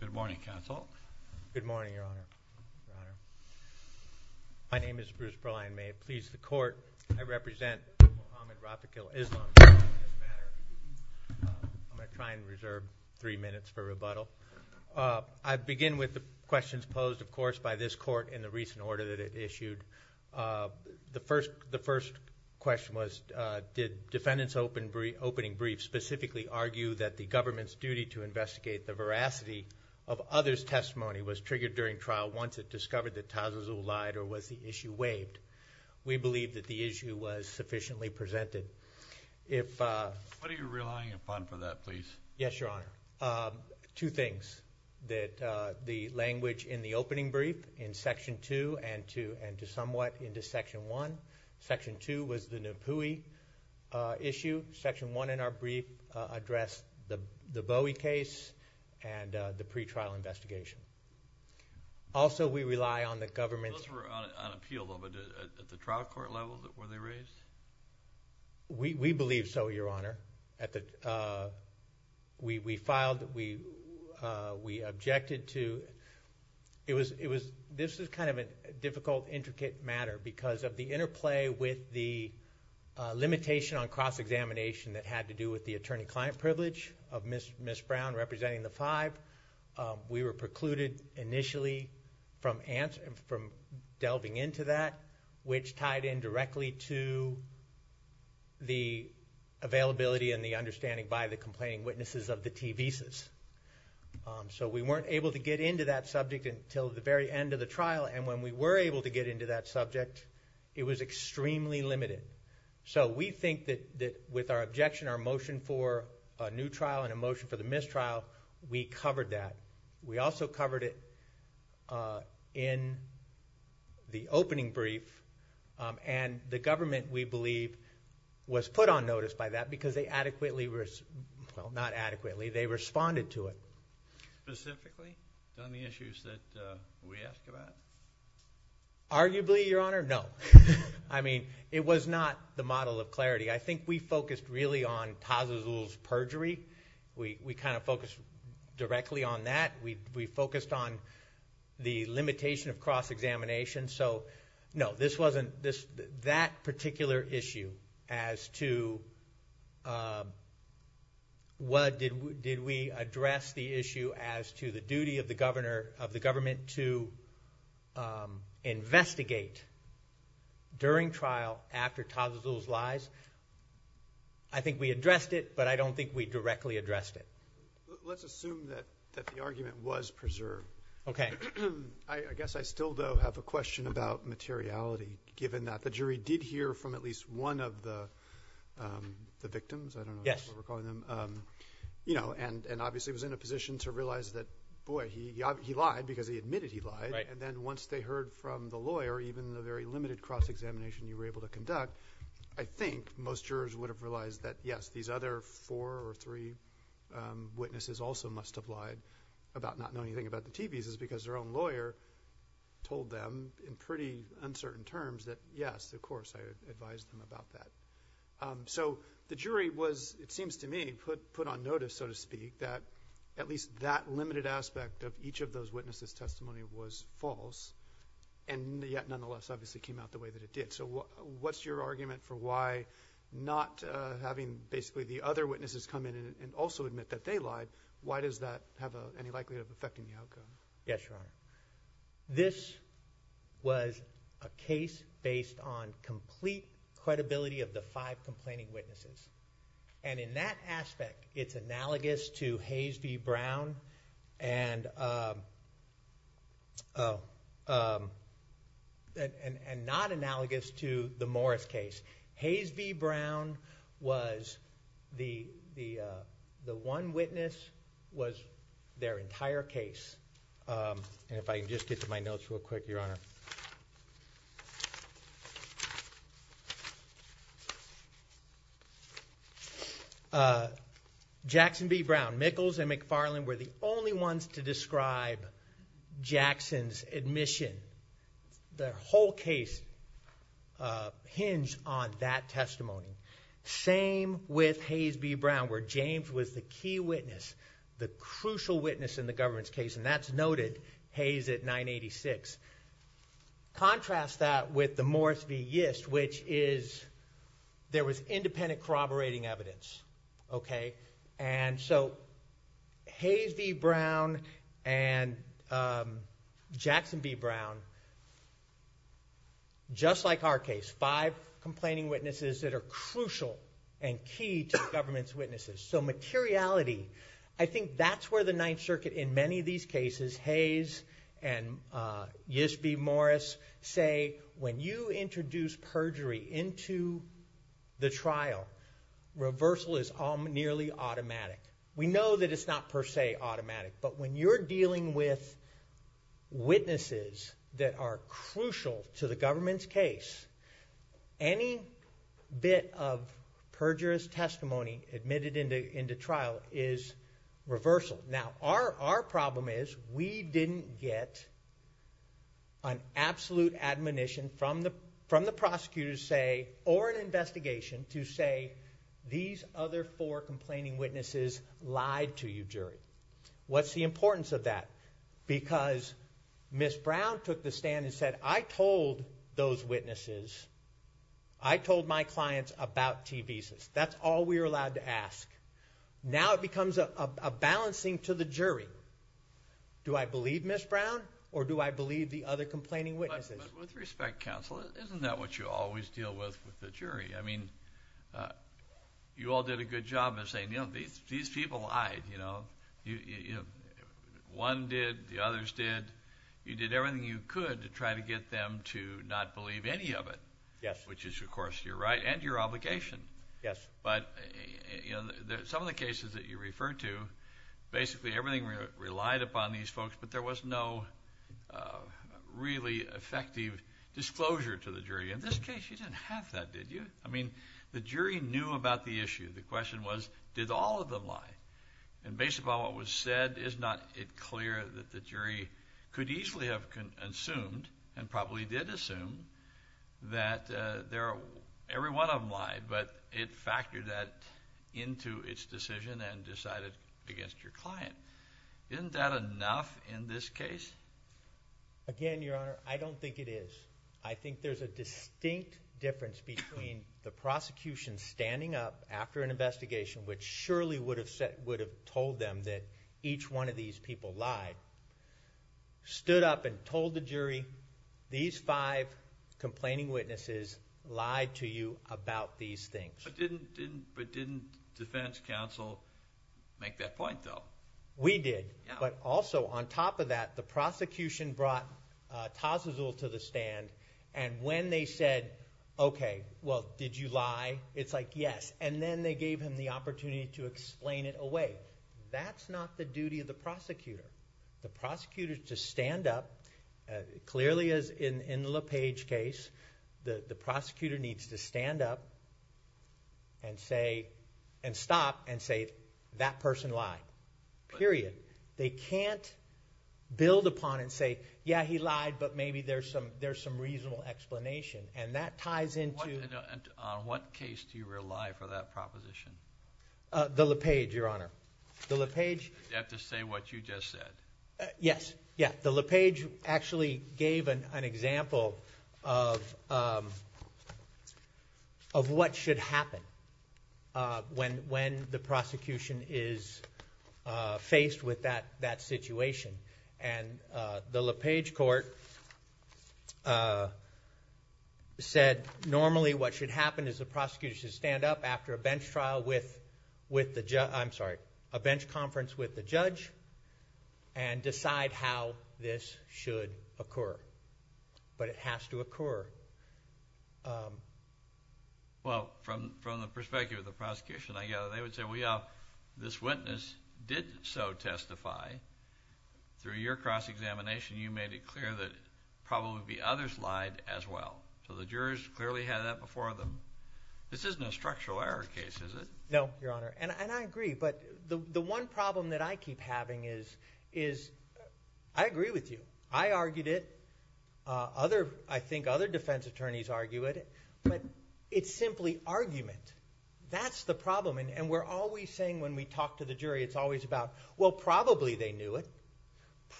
Good morning, Your Honor. My name is Bruce Bryan. May it please the Court, I represent Mohammed Rafiq Islam. I'm going to try and reserve three minutes for rebuttal. I begin with the questions posed, of course, by this Court in the recent order that it issued. The first question was, did defendants' opening briefs specifically argue that the government's duty to investigate the veracity of others' testimony was triggered during trial once it discovered that Tazazu lied or was the issue waived? We believe that the issue was sufficiently presented. What are you relying upon for that, please? Yes, Your Honor. Two things, that the language in the opening brief in Section 2 and to somewhat into Section 1. Section 2 was the Nipuhi issue. Section 1, in our brief, addressed the Bowie case and the pretrial investigation. Also, we rely on the government's... Those were unappealable, but at the trial court level, were they raised? We believe so, Your Honor. We filed, we objected to... This is kind of a difficult, intricate matter because of the interplay with the limitation on cross-examination that had to do with the attorney-client privilege of Ms. Brown representing the five. We were precluded initially from delving into that, which tied in directly to the availability and the understanding by the complaining witnesses of the TVCIS. So, we weren't able to get into that subject until the very end of the trial, and when we were able to get into that subject, it was extremely limited. So, we think that with our objection, our motion for a new trial and a motion for the mistrial, we covered that. We also covered it in the opening brief, and the government, we believe, was put on notice by that because they adequately... well, not adequately... they responded to it. Specifically, on the issues that we asked about? Arguably, Your Honor, no. I mean, it was not the model of clarity. I think we focused really on Paz-Azul's perjury. We kind of focused directly on that. We focused on the limitation of cross-examination. So, no, this wasn't... that particular issue as to what... did we address the issue as to the duty of the government to investigate during trial after Paz-Azul's lies? I think we addressed it, but I don't think we directly addressed it. Let's assume that the argument was preserved. I guess I still, though, have a question about materiality, given that the jury did hear from at least one of the victims. I don't know if that's what we're calling them. And, obviously, was in a position to realize that, boy, he lied because he admitted he lied. And then, once they heard from the lawyer, even the very limited cross-examination you were able to conduct, I think most jurors would have realized that, yes, these other four or three witnesses also must have lied about not knowing anything about the TV's because their own lawyer told them in pretty uncertain terms that, yes, of course, I advised them about that. So, the jury was, it seems to me, put on notice, so to speak, that at least that limited aspect of each of those witnesses' testimony was false and yet, nonetheless, obviously came out the way that it did. So, what's your argument for why not having basically the other witnesses come in and also admit that they lied, why does that have any likelihood of affecting the outcome? Yes, Your Honor. This was a case based on complete credibility of the five complaining witnesses. And in that aspect, it's analogous to Hayes v. Brown and not analogous to the Morris case. Hayes v. Brown was, the one witness was their entire case. And if I can just get to my notes real quick, Your Honor. Jackson v. Brown, Michels and McFarland were the only ones to change on that testimony. Same with Hayes v. Brown, where James was the key witness, the crucial witness in the government's case, and that's noted, Hayes at 986. Contrast that with the Morris v. Yist, which is, there was independent corroborating evidence, okay? And so, Hayes v. Brown and Jackson v. Brown, just like our case, five complaining witnesses that are crucial and key to government's witnesses. So, materiality, I think that's where the Ninth Circuit, in many of these cases, Hayes and Yist v. Morris say, when you introduce perjury into the trial, reversal is nearly automatic. We know that it's not per se automatic, but when you're dealing with witnesses that are crucial to the government's case, any bit of perjurous testimony admitted into trial is reversal. Now, our problem is, we didn't get an absolute admonition from the prosecutor to say, or an investigation to say, these other four complaining witnesses lied to you, jury. What's the importance of that? Because Ms. Brown took the stand and said, I told those witnesses, I told my clients about T-Visas. That's all we were allowed to ask. Now it becomes a balancing to the jury. Do I believe Ms. Brown, or do I believe the other complaining witnesses? But with respect, counsel, isn't that what you always deal with, with the jury? I mean, you all did a good job of saying, you know, these people lied, you know. One did, the others did. You did everything you could to try to get them to not believe any of it. Yes. Which is, of course, your right and your obligation. Yes. But, you know, some of the cases that you did, there was no really effective disclosure to the jury. In this case, you didn't have that, did you? I mean, the jury knew about the issue. The question was, did all of them lie? And based upon what was said, is not it clear that the jury could easily have assumed, and probably did assume, that every one of them lied, but it factored that into its decision and decided against your client. Isn't that enough in this case? Again, Your Honor, I don't think it is. I think there's a distinct difference between the prosecution standing up after an investigation, which surely would have told them that each one of these people lied, stood up and told the jury, these five complaining witnesses lied to you about these things. But didn't defense counsel make that point, though? We did. But also, on top of that, the prosecution brought Tassuzul to the stand, and when they said, okay, well, did you lie? It's like, yes. And then they gave him the opportunity to explain it away. That's not the duty of the prosecutor. The prosecutor, to stand up, clearly, as in the LePage case, the prosecutor needs to stand up and say, and stop, and say, that person lied. Period. They can't build upon and say, yeah, he lied, but maybe there's some reasonable explanation. And that ties into... On what case do you rely for that proposition? The LePage, Your Honor. The LePage... You have to say what you just said. Yes. Yeah. The LePage actually gave an example of what should happen when the prosecution is faced with that situation. And the LePage court said, normally, what should happen is the prosecutor should stand up after a bench trial with the... I'm sorry, a bench conference with the judge, and decide how this should occur. But it has to occur... Well, from the perspective of the prosecution, I gather they would say, well, yeah, this witness did so testify. Through your cross-examination, you made it clear that probably the others lied as well. So the jurors clearly had that before them. This isn't a structural error case, is it? No, Your Honor. And I agree. But the one problem that I keep having is... I agree with you. I argued it. I think other defense attorneys argue it. But it's simply argument. That's the problem. And we're always saying when we talk to the jury, it's always about, well, probably they knew it.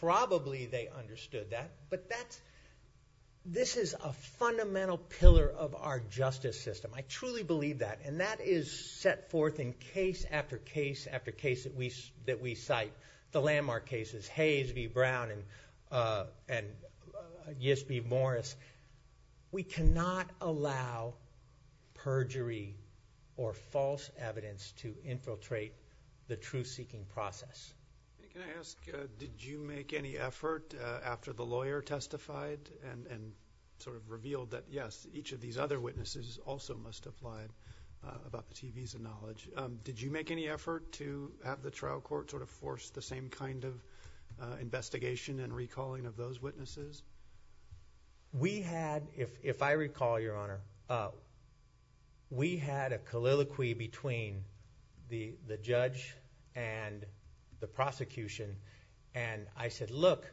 Probably they didn't. But this is a fundamental pillar of our justice system. I truly believe that. And that is set forth in case after case after case that we cite. The landmark cases, Hayes v. Brown and Yist v. Morris. We cannot allow perjury or false evidence to infiltrate the truth-seeking process. Can I ask, did you make any effort after the trial court sort of revealed that, yes, each of these other witnesses also must have lied about the TV's of knowledge, did you make any effort to have the trial court sort of force the same kind of investigation and recalling of those witnesses? We had... if I recall, Your Honor, we had a colloquy between the judge and the prosecution. And I said, look,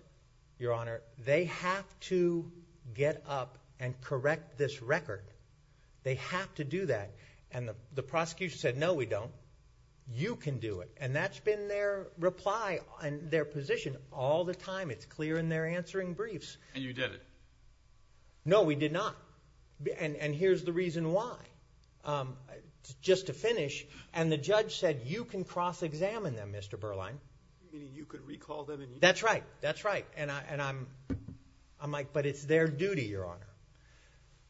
Your Honor, they have to get up and correct this record. They have to do that. And the prosecution said, no, we don't. You can do it. And that's been their reply and their position all the time. It's clear in their answering briefs. And you did it? No, we did not. And here's the reason why. Just to finish, and the judge said, you can cross-examine them, Mr. Berline. Meaning you could recall them and... That's right. That's right. And I'm like, but it's their duty, Your Honor.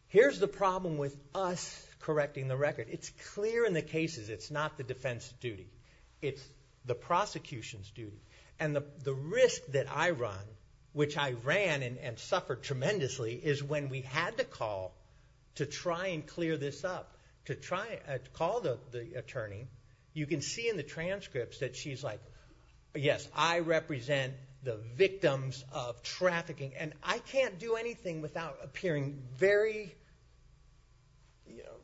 Here's the problem with us correcting the record. It's clear in the cases. It's not the defense's duty. It's the prosecution's duty. And the risk that I run, which I ran and suffered tremendously, is when we had to call to try and clear this up, to try and call the attorney, you can see in the transcripts that she's like, yes, I represent the victims of trafficking. And I can't do anything without appearing very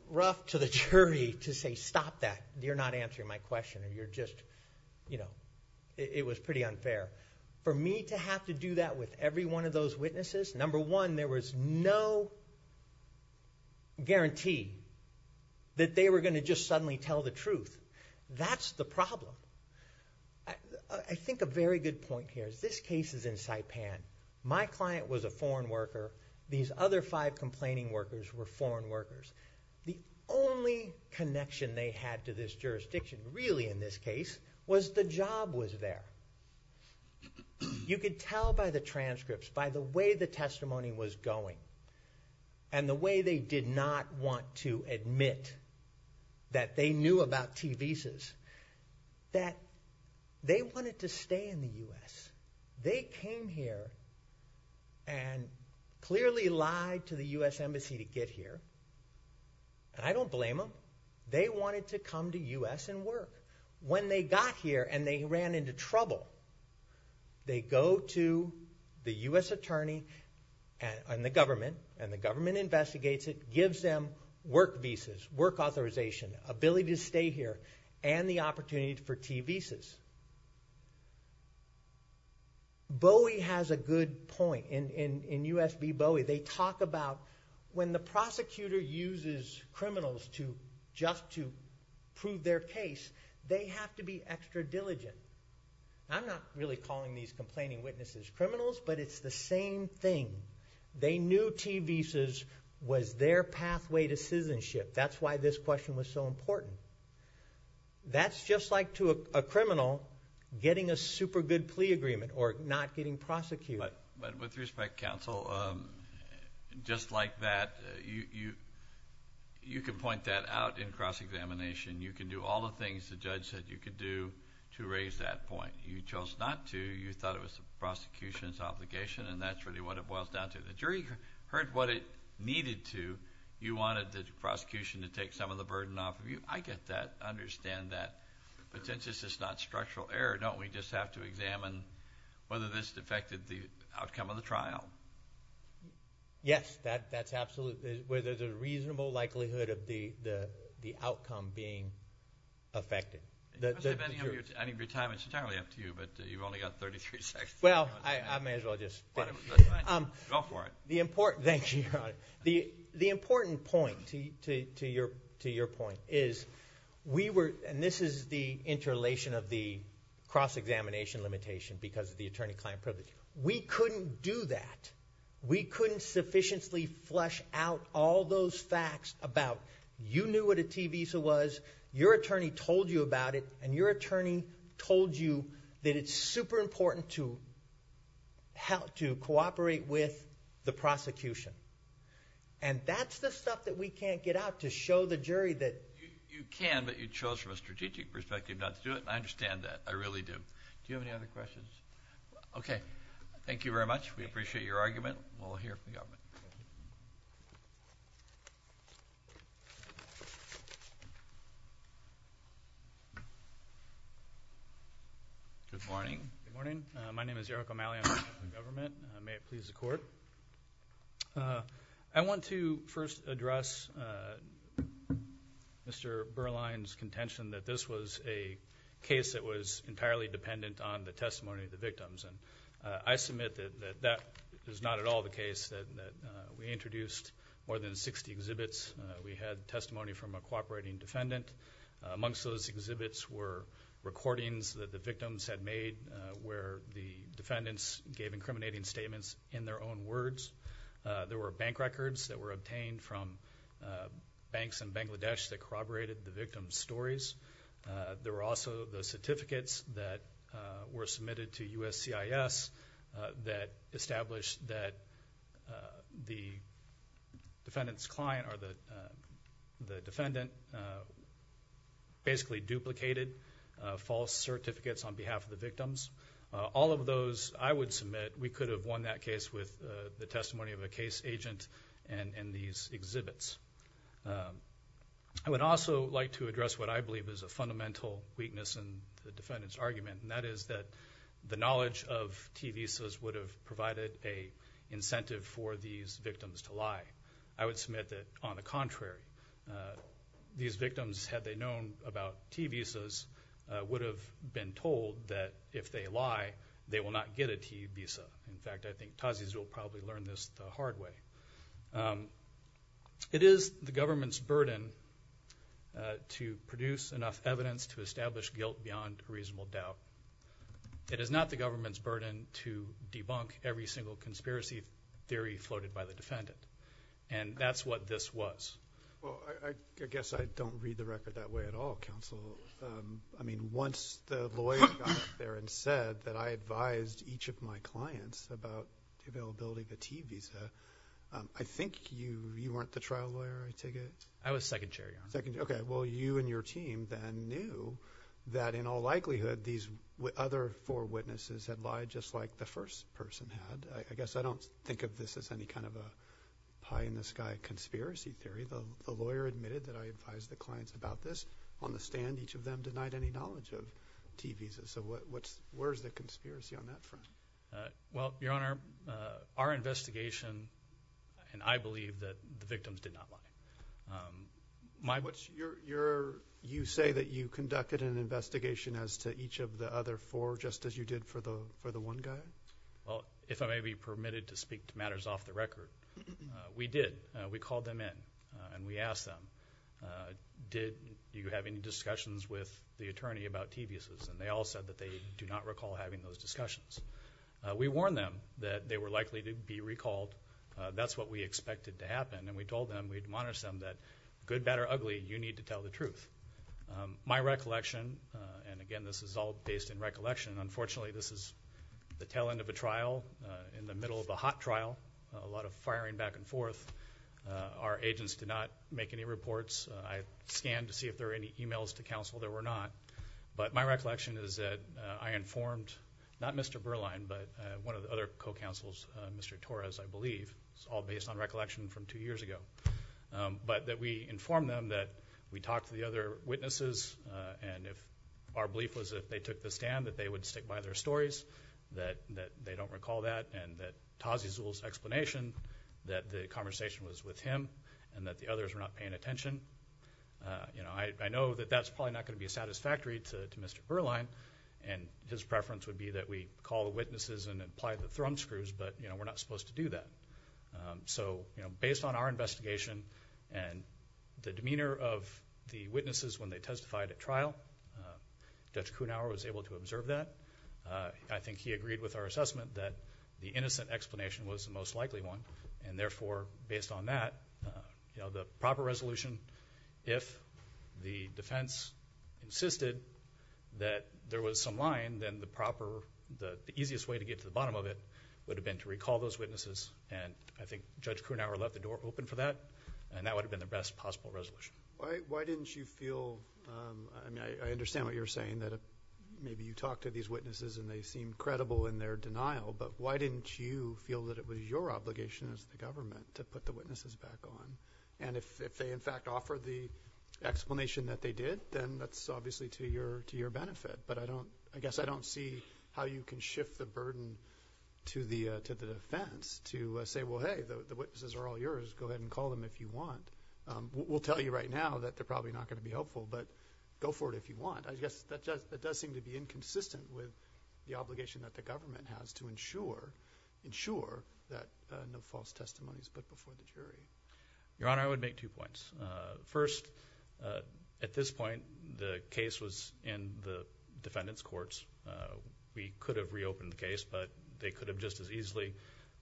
rough to the jury to say, stop that. You're not answering my question. You're just... It was pretty unfair. For me to have to do that with every one of those witnesses, number one, there was no guarantee that they were going to just suddenly tell the truth. That's the problem. I think a very good point here is this case is in Saipan. My client was a foreign worker. These other five complaining workers were foreign workers. The only connection they had to this jurisdiction, really in this case, was the job was there. You could tell by the transcripts, by the way the testimony was going, and the way they did not want to admit that they knew about T visas, that they wanted to stay in the U.S. They came here and clearly lied to the U.S. Embassy to get here. And I don't blame them. They wanted to come to the U.S. and work. When they got here and they ran into trouble, they go to the U.S. Attorney and the government, and the government investigates it, gives them work visas, work authorization, ability to stay here, and the opportunity for T visas. Bowie has a good point. In U.S. v. Bowie, they talk about when the prosecutor uses criminals to just to prove their case, they have to be extra diligent. I'm not really calling these complaining witnesses criminals, but it's the same thing. They knew T visas was their pathway to citizenship. That's why this question was so important. That's just like to a criminal getting a super good plea agreement or not getting prosecuted. With respect, counsel, just like that, you can point that out in cross-examination. You can do all the things the judge said you could do to raise that point. You chose not to. You thought it was the prosecution's obligation, and that's really what it boils down to. The jury heard what it needed to. You wanted the prosecution to take some of the burden off of you. I get that. I understand that. But since this is not structural error, don't we just have to examine whether this affected the outcome of the trial? Yes, that's absolutely where there's a reasonable likelihood of the outcome being affected. It's entirely up to you, but you've only got 33 seconds. Well, I may as well just go for it. Thank you, Your Honor. The important point to your point is, and this is the interrelation of the cross-examination limitation because of the attorney-client privilege. We couldn't do that. We couldn't sufficiently flush out all those facts about you knew what a T visa was, your attorney told you about it, and your attorney told you that it's super important to cooperate with the prosecution. That's the stuff that we can't get out to show the jury that... I understand that. I really do. Do you have any other questions? Okay. Thank you very much. We appreciate your argument. We'll hear from the government. Good morning. Good morning. My name is Eric O'Malley. I'm with the government. May it please the Court. I want to first address Mr. Berline's contention that this was a case that was entirely dependent on the testimony of the victims. I submit that that is not at all the case. We introduced more than 60 exhibits. We had testimony from a cooperating defendant. Amongst those exhibits were recordings that the victims had made where the defendants gave incriminating statements in their own words. There were bank records that were obtained from banks in Bangladesh that corroborated the victims' stories. There were also the certificates that were submitted to USCIS that established that the defendant's client or the defendant basically duplicated false certificates on behalf of the victims. All of those I would submit we could have won that case with the testimony of a case agent and these exhibits. I would also like to address what I believe is a fundamental weakness in the defendant's argument, and that is that the knowledge of T visas would have provided an incentive for these victims to lie. I would submit that, on the contrary, these victims, had they known about T visas, would have been told that if they lie, they will not get a T visa. In fact, I think Tazis will probably learn this the hard way. It is the government's burden to produce enough evidence to establish guilt beyond reasonable doubt. It is not the government's burden to debunk every single conspiracy theory floated by the defendant, and that's what this was. Well, I guess I don't read the record that way at all, counsel. I mean, once the lawyer got up there and said that I advised each of my clients about the availability of a T visa, I think you weren't the trial lawyer, I take it? I was second chair, yeah. Okay. Well, you and your team then knew that, in all likelihood, these other four witnesses had lied just like the first person had. I guess I don't think of this as any kind of a pie-in-the-sky conspiracy theory. The lawyer admitted that I advised the clients about this. On the stand, each of them denied any knowledge of T visas. So where's the conspiracy on that front? Well, Your Honor, our investigation, and I believe that the victims did not lie. You say that you conducted an investigation as to each of the other four, just as you did for the one guy? Well, if I may be permitted to speak to matters off the record, we did. We called them in and we asked them, did you have any discussions with the attorney about T visas? And they all said that they do not recall having those discussions. We warned them that they were likely to be recalled. That's what we expected to happen. And we told them, we admonished them that, good, bad, or ugly, you need to tell the truth. My recollection, and again, this is all based in recollection, unfortunately, this is the tail end of a trial, in the middle of a hot trial, a lot of firing back and forth. Our agents did not make any reports. I scanned to see if there were any emails to counsel. There were not. But my recollection is that I informed, not Mr. Berline, but one of the other co-counsels, Mr. Torres, I believe. It's all based on recollection from two years ago. But that we informed them that we talked to the other witnesses, and our belief was that if they took the stand, that they would stick by their stories, that they don't recall that, and that Tazi Zul's explanation, that the conversation was with him, and that the others were not paying attention. I know that that's probably not going to be satisfactory to Mr. Berline, and his preference would be that we call the witnesses and apply the thrum screws, but we're not supposed to do that. So, based on our investigation, and the demeanor of the witnesses when they testified at trial, Judge Kuhnhauer was able to observe that. I think he agreed with our assessment that the innocent explanation was the most likely one, and therefore, based on that, the proper resolution, if the defense insisted that there was some line, then the proper, the easiest way to get to the bottom of it would have been to recall those witnesses, and I think Judge Kuhnhauer left the door open for that, and that would have been the best possible resolution. Why didn't you feel, and I understand what you're saying, that maybe you talked to these witnesses, and they seemed credible in their denial, but why didn't you feel that it was your obligation as the government to put the witnesses back on? And if they, in fact, offered the explanation that they did, then that's obviously to your benefit, but I guess I don't see how you can shift the burden to the defense to say, well, hey, the witnesses are all yours, go ahead and call them if you want. We'll tell you right now that they're probably not going to be helpful, but go for it if you want. I guess that does seem to be inconsistent with the obligation that the government has to ensure that no false testimony is put before the jury. Your Honor, I would make two points. First, at this point, the case was in the defendant's courts, we could have reopened the case, but they could have just as easily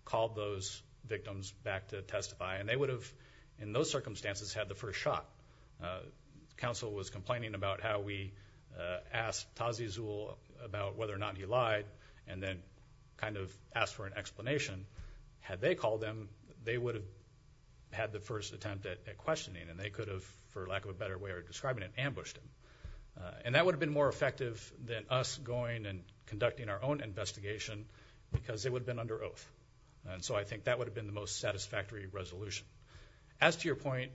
called those victims back to testify, and they would have, in those circumstances, had the first shot. Counsel was complaining about how we asked Tazi Zuhl about whether or not he lied, and then kind of asked for an explanation. Had they called them, they would have had the first attempt at questioning, and they could have, for lack of a better way of describing it, conducting our own investigation, because they would have been under oath. So I think that would have been the most satisfactory resolution. As to your point,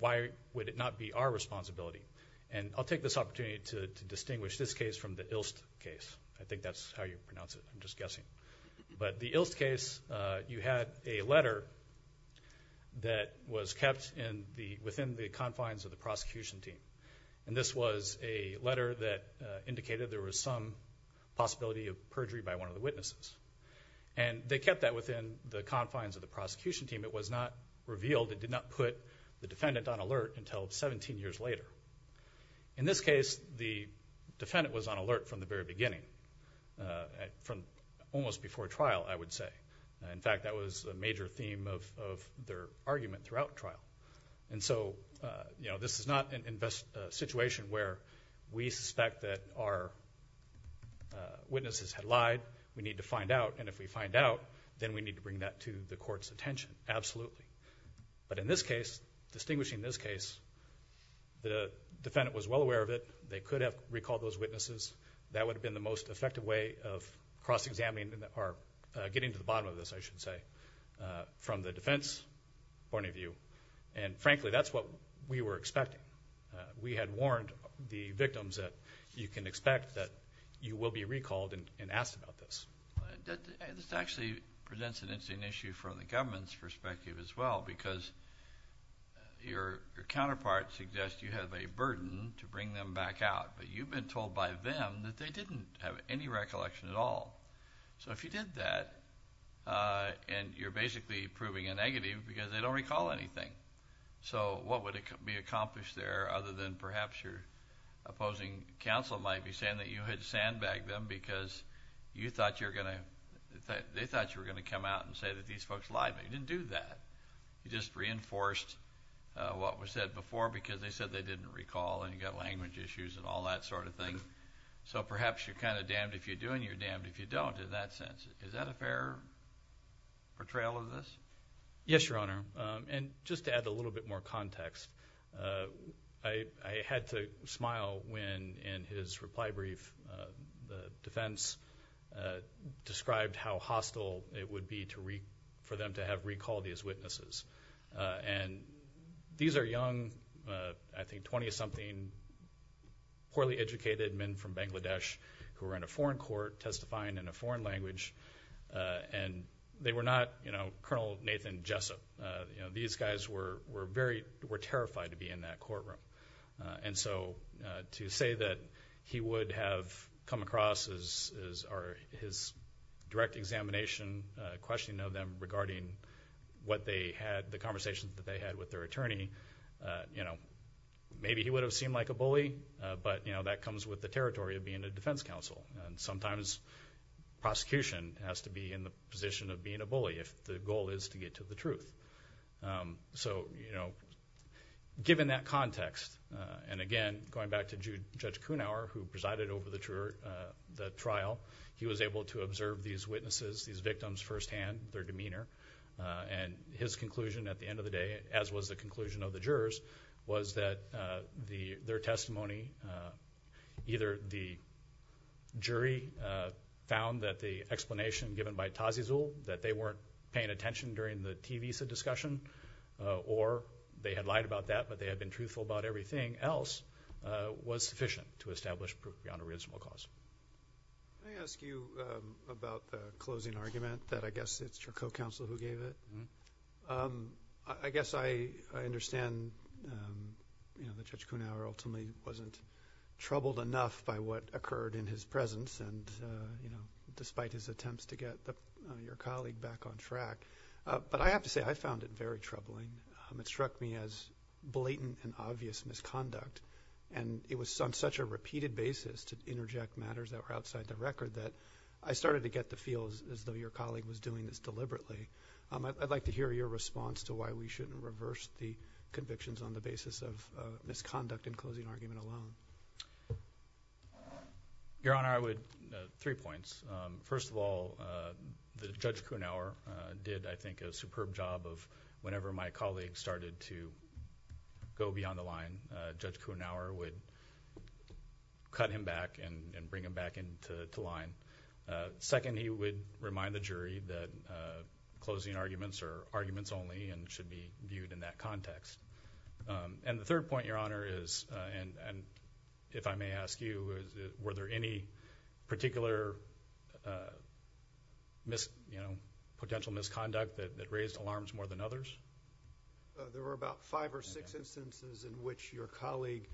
why would it not be our responsibility, and I'll take this opportunity to distinguish this case from the Ilst case. I think that's how you pronounce it, I'm just guessing. But the Ilst case, you had a letter that was kept within the confines of the prosecution team. And this was a letter that indicated there was some possibility of perjury by one of the witnesses. And they kept that within the confines of the prosecution team, it was not revealed, it did not put the defendant on alert until 17 years later. In this case, the defendant was on alert from the very beginning, from almost before trial, I would say. In fact, that was a major theme of their argument throughout trial. And so, you know, this is not a situation where we suspect that our witnesses had lied, we need to find out, and if we find out, then we need to bring that to the court's attention, absolutely. But in this case, distinguishing this case, the defendant was well aware of it, they could have recalled those witnesses, that would have been the most effective way of cross-examining, or getting to the bottom of this, I should say, from the defense point of view. And frankly, that's what we were expecting. We had warned the victims that you can expect that you will be recalled and asked about this. This actually presents an interesting issue from the government's perspective as well, because your counterpart suggests you have a burden to bring them back out, but you've been told by them that they didn't have any recollection at all. So if you did that, and you're basically proving a negative, because they don't recall anything. So what would it be accomplished there, other than perhaps your opposing counsel might be saying that you had sandbagged them because you thought you were going to, they thought you were going to come out and say that these folks lied, but you didn't do that. You just reinforced what was said before, because they said they didn't recall, and you got language issues, and all that sort of thing. So perhaps you're kind of damned if you do, and you're damned if you don't, in that sense. Is that a fair portrayal of this? Yes, Your Honor. And just to add a little bit more context, I had to smile when, in his reply brief, the defense described how hostile it would be for them to have recalled these witnesses. And these are young, I think 20-something, poorly educated men from Bangladesh who were in a foreign court testifying in a foreign language, and they were not Colonel Nathan Jessup. These guys were very, were terrified to be in that courtroom. And so to say that he would have come across as, or his direct examination, questioning of them regarding what they had, the conversations that they had with their attorney, maybe he would have seemed like a bully, but that comes with the territory of being a defense counsel. And sometimes prosecution has to be in the position of being a bully if the goal is to get to the truth. So given that context, and again, going back to Judge Kuhnauer, who presided over the trial, he was able to observe these witnesses, these victims firsthand, their demeanor, and his conclusion at the end of the day, as was the conclusion of the jurors, was that their testimony, either the jury found that the explanation given by Tazizul, that they weren't paying attention during the TVISA discussion, or they had lied about that, they had been truthful about everything else, was sufficient to establish proprionorismal cause. Can I ask you about the closing argument that I guess it's your co-counsel who gave it? I guess I understand that Judge Kuhnauer ultimately wasn't troubled enough by what occurred in his presence, and despite his attempts to get your colleague back on track. But I have to say, I found it very troubling. It struck me as blatant and obvious misconduct, and it was on such a repeated basis to interject matters that were outside the record that I started to get the feel as though your colleague was doing this deliberately. I'd like to hear your response to why we shouldn't reverse the convictions on the basis of misconduct in closing argument alone. Your Honor, I would – three points. First of all, Judge Kuhnauer did, I think, a superb job of whenever my colleague started to go beyond the line, Judge Kuhnauer would cut him back and bring him back into line. Second, he would remind the jury that closing arguments are arguments only and should be viewed in that context. And the third point, Your Honor, is – and if I may ask you, were there any particular potential misconduct that raised alarms more than others? There were about five or six instances in which your colleague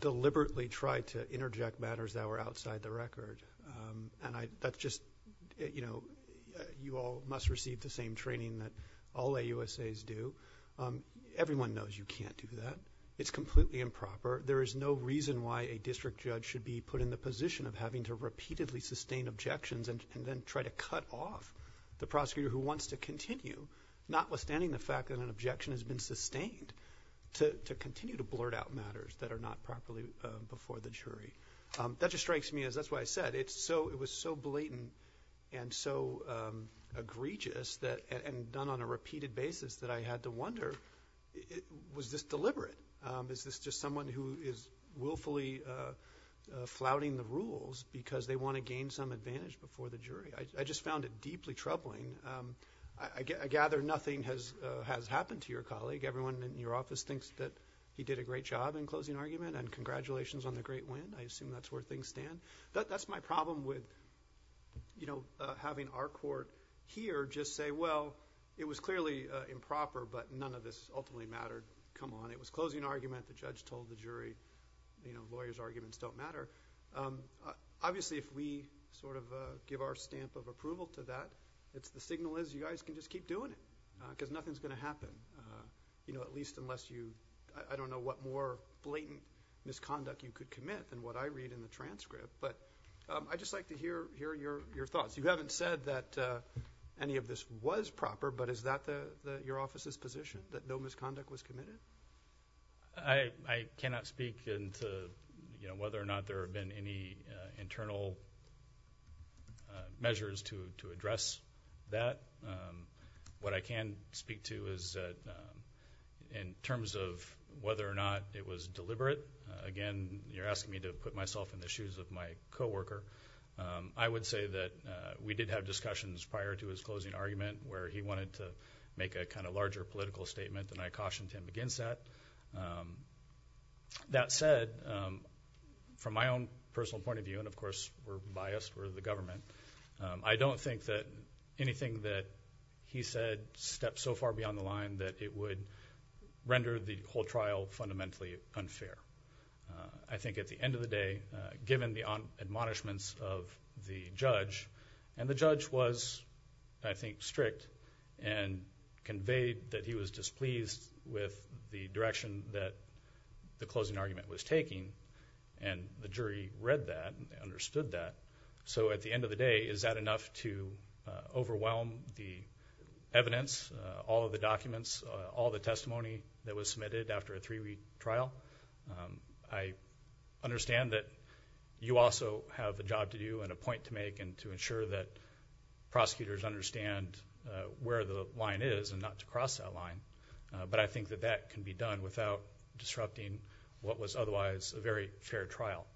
deliberately tried to interject matters that were outside the record. And that's just – you all must receive the same training that all AUSAs do. Everyone knows you can't do that. It's completely improper. There is no reason why a district judge should be put in the position of having to repeatedly sustain objections and then try to cut off the prosecutor who wants to continue, notwithstanding the fact that an objection has been sustained, to continue to blurt out matters that are not properly before the jury. That just strikes me as – that's why I said it was so blatant and so egregious and done on a repeated basis that I had to wonder, was this deliberate? Is this just someone who is willfully flouting the rules because they want to gain some advantage before the jury? I just found it deeply troubling. I gather nothing has happened to your colleague. Everyone in your office thinks that he did a great job in closing argument, and congratulations on the great win. I assume that's where things stand. That's my problem with having our court here just say, well, it was clearly improper, but none of this ultimately mattered. Come on. It was closing argument. The judge told the jury lawyers' arguments don't matter. Obviously, if we sort of give our stamp of approval to that, it's the signal is you guys can just keep doing it because nothing is going to happen, at least unless you – I don't know what more blatant misconduct you could commit than what I read in the transcript, but I'd just like to hear your thoughts. You haven't said that any of this was proper, but is that your office's position, that no misconduct was committed? I cannot speak into whether or not there have been any internal measures to address that. What I can speak to is that in terms of whether or not it was in the shoes of my co-worker, I would say that we did have discussions prior to his closing argument where he wanted to make a kind of larger political statement, and I cautioned him against that. That said, from my own personal point of view, and of course we're biased, we're the government, I don't think that anything that he said steps so far beyond the line that it would given the admonishments of the judge, and the judge was, I think, strict and conveyed that he was displeased with the direction that the closing argument was taking, and the jury read that and understood that. So at the end of the day, is that enough to overwhelm the evidence, all of the documents, all the testimony that was submitted after a three-week trial? I understand that you also have a job to do and a point to make and to ensure that prosecutors understand where the line is and not to cross that line, but I think that that can be done without disrupting what was otherwise a very fair trial.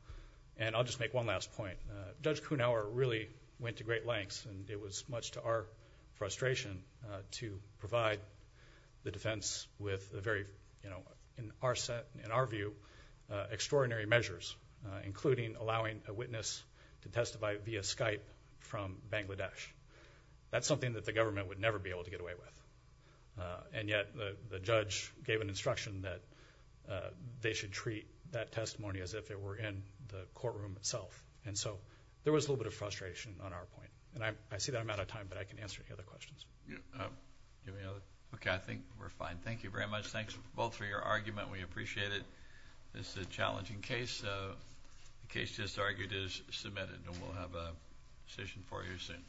And I'll just make one last point. Judge Kuhnhauer really went to great lengths, and it was much to our frustration to provide the defense with a very, you know, in our set, in our view, extraordinary measures, including allowing a witness to testify via Skype from Bangladesh. That's something that the government would never be able to get away with, and yet the judge gave an instruction that they should treat that testimony as if it were in the courtroom itself, and so there was a little bit of frustration on our point. And I see that I'm out of time, but I can answer any other questions. Yeah. Okay, I think we're fine. Thank you very much. Thanks both for your argument. We appreciate it. This is a challenging case. The case just argued is submitted, and we'll have a decision for you soon.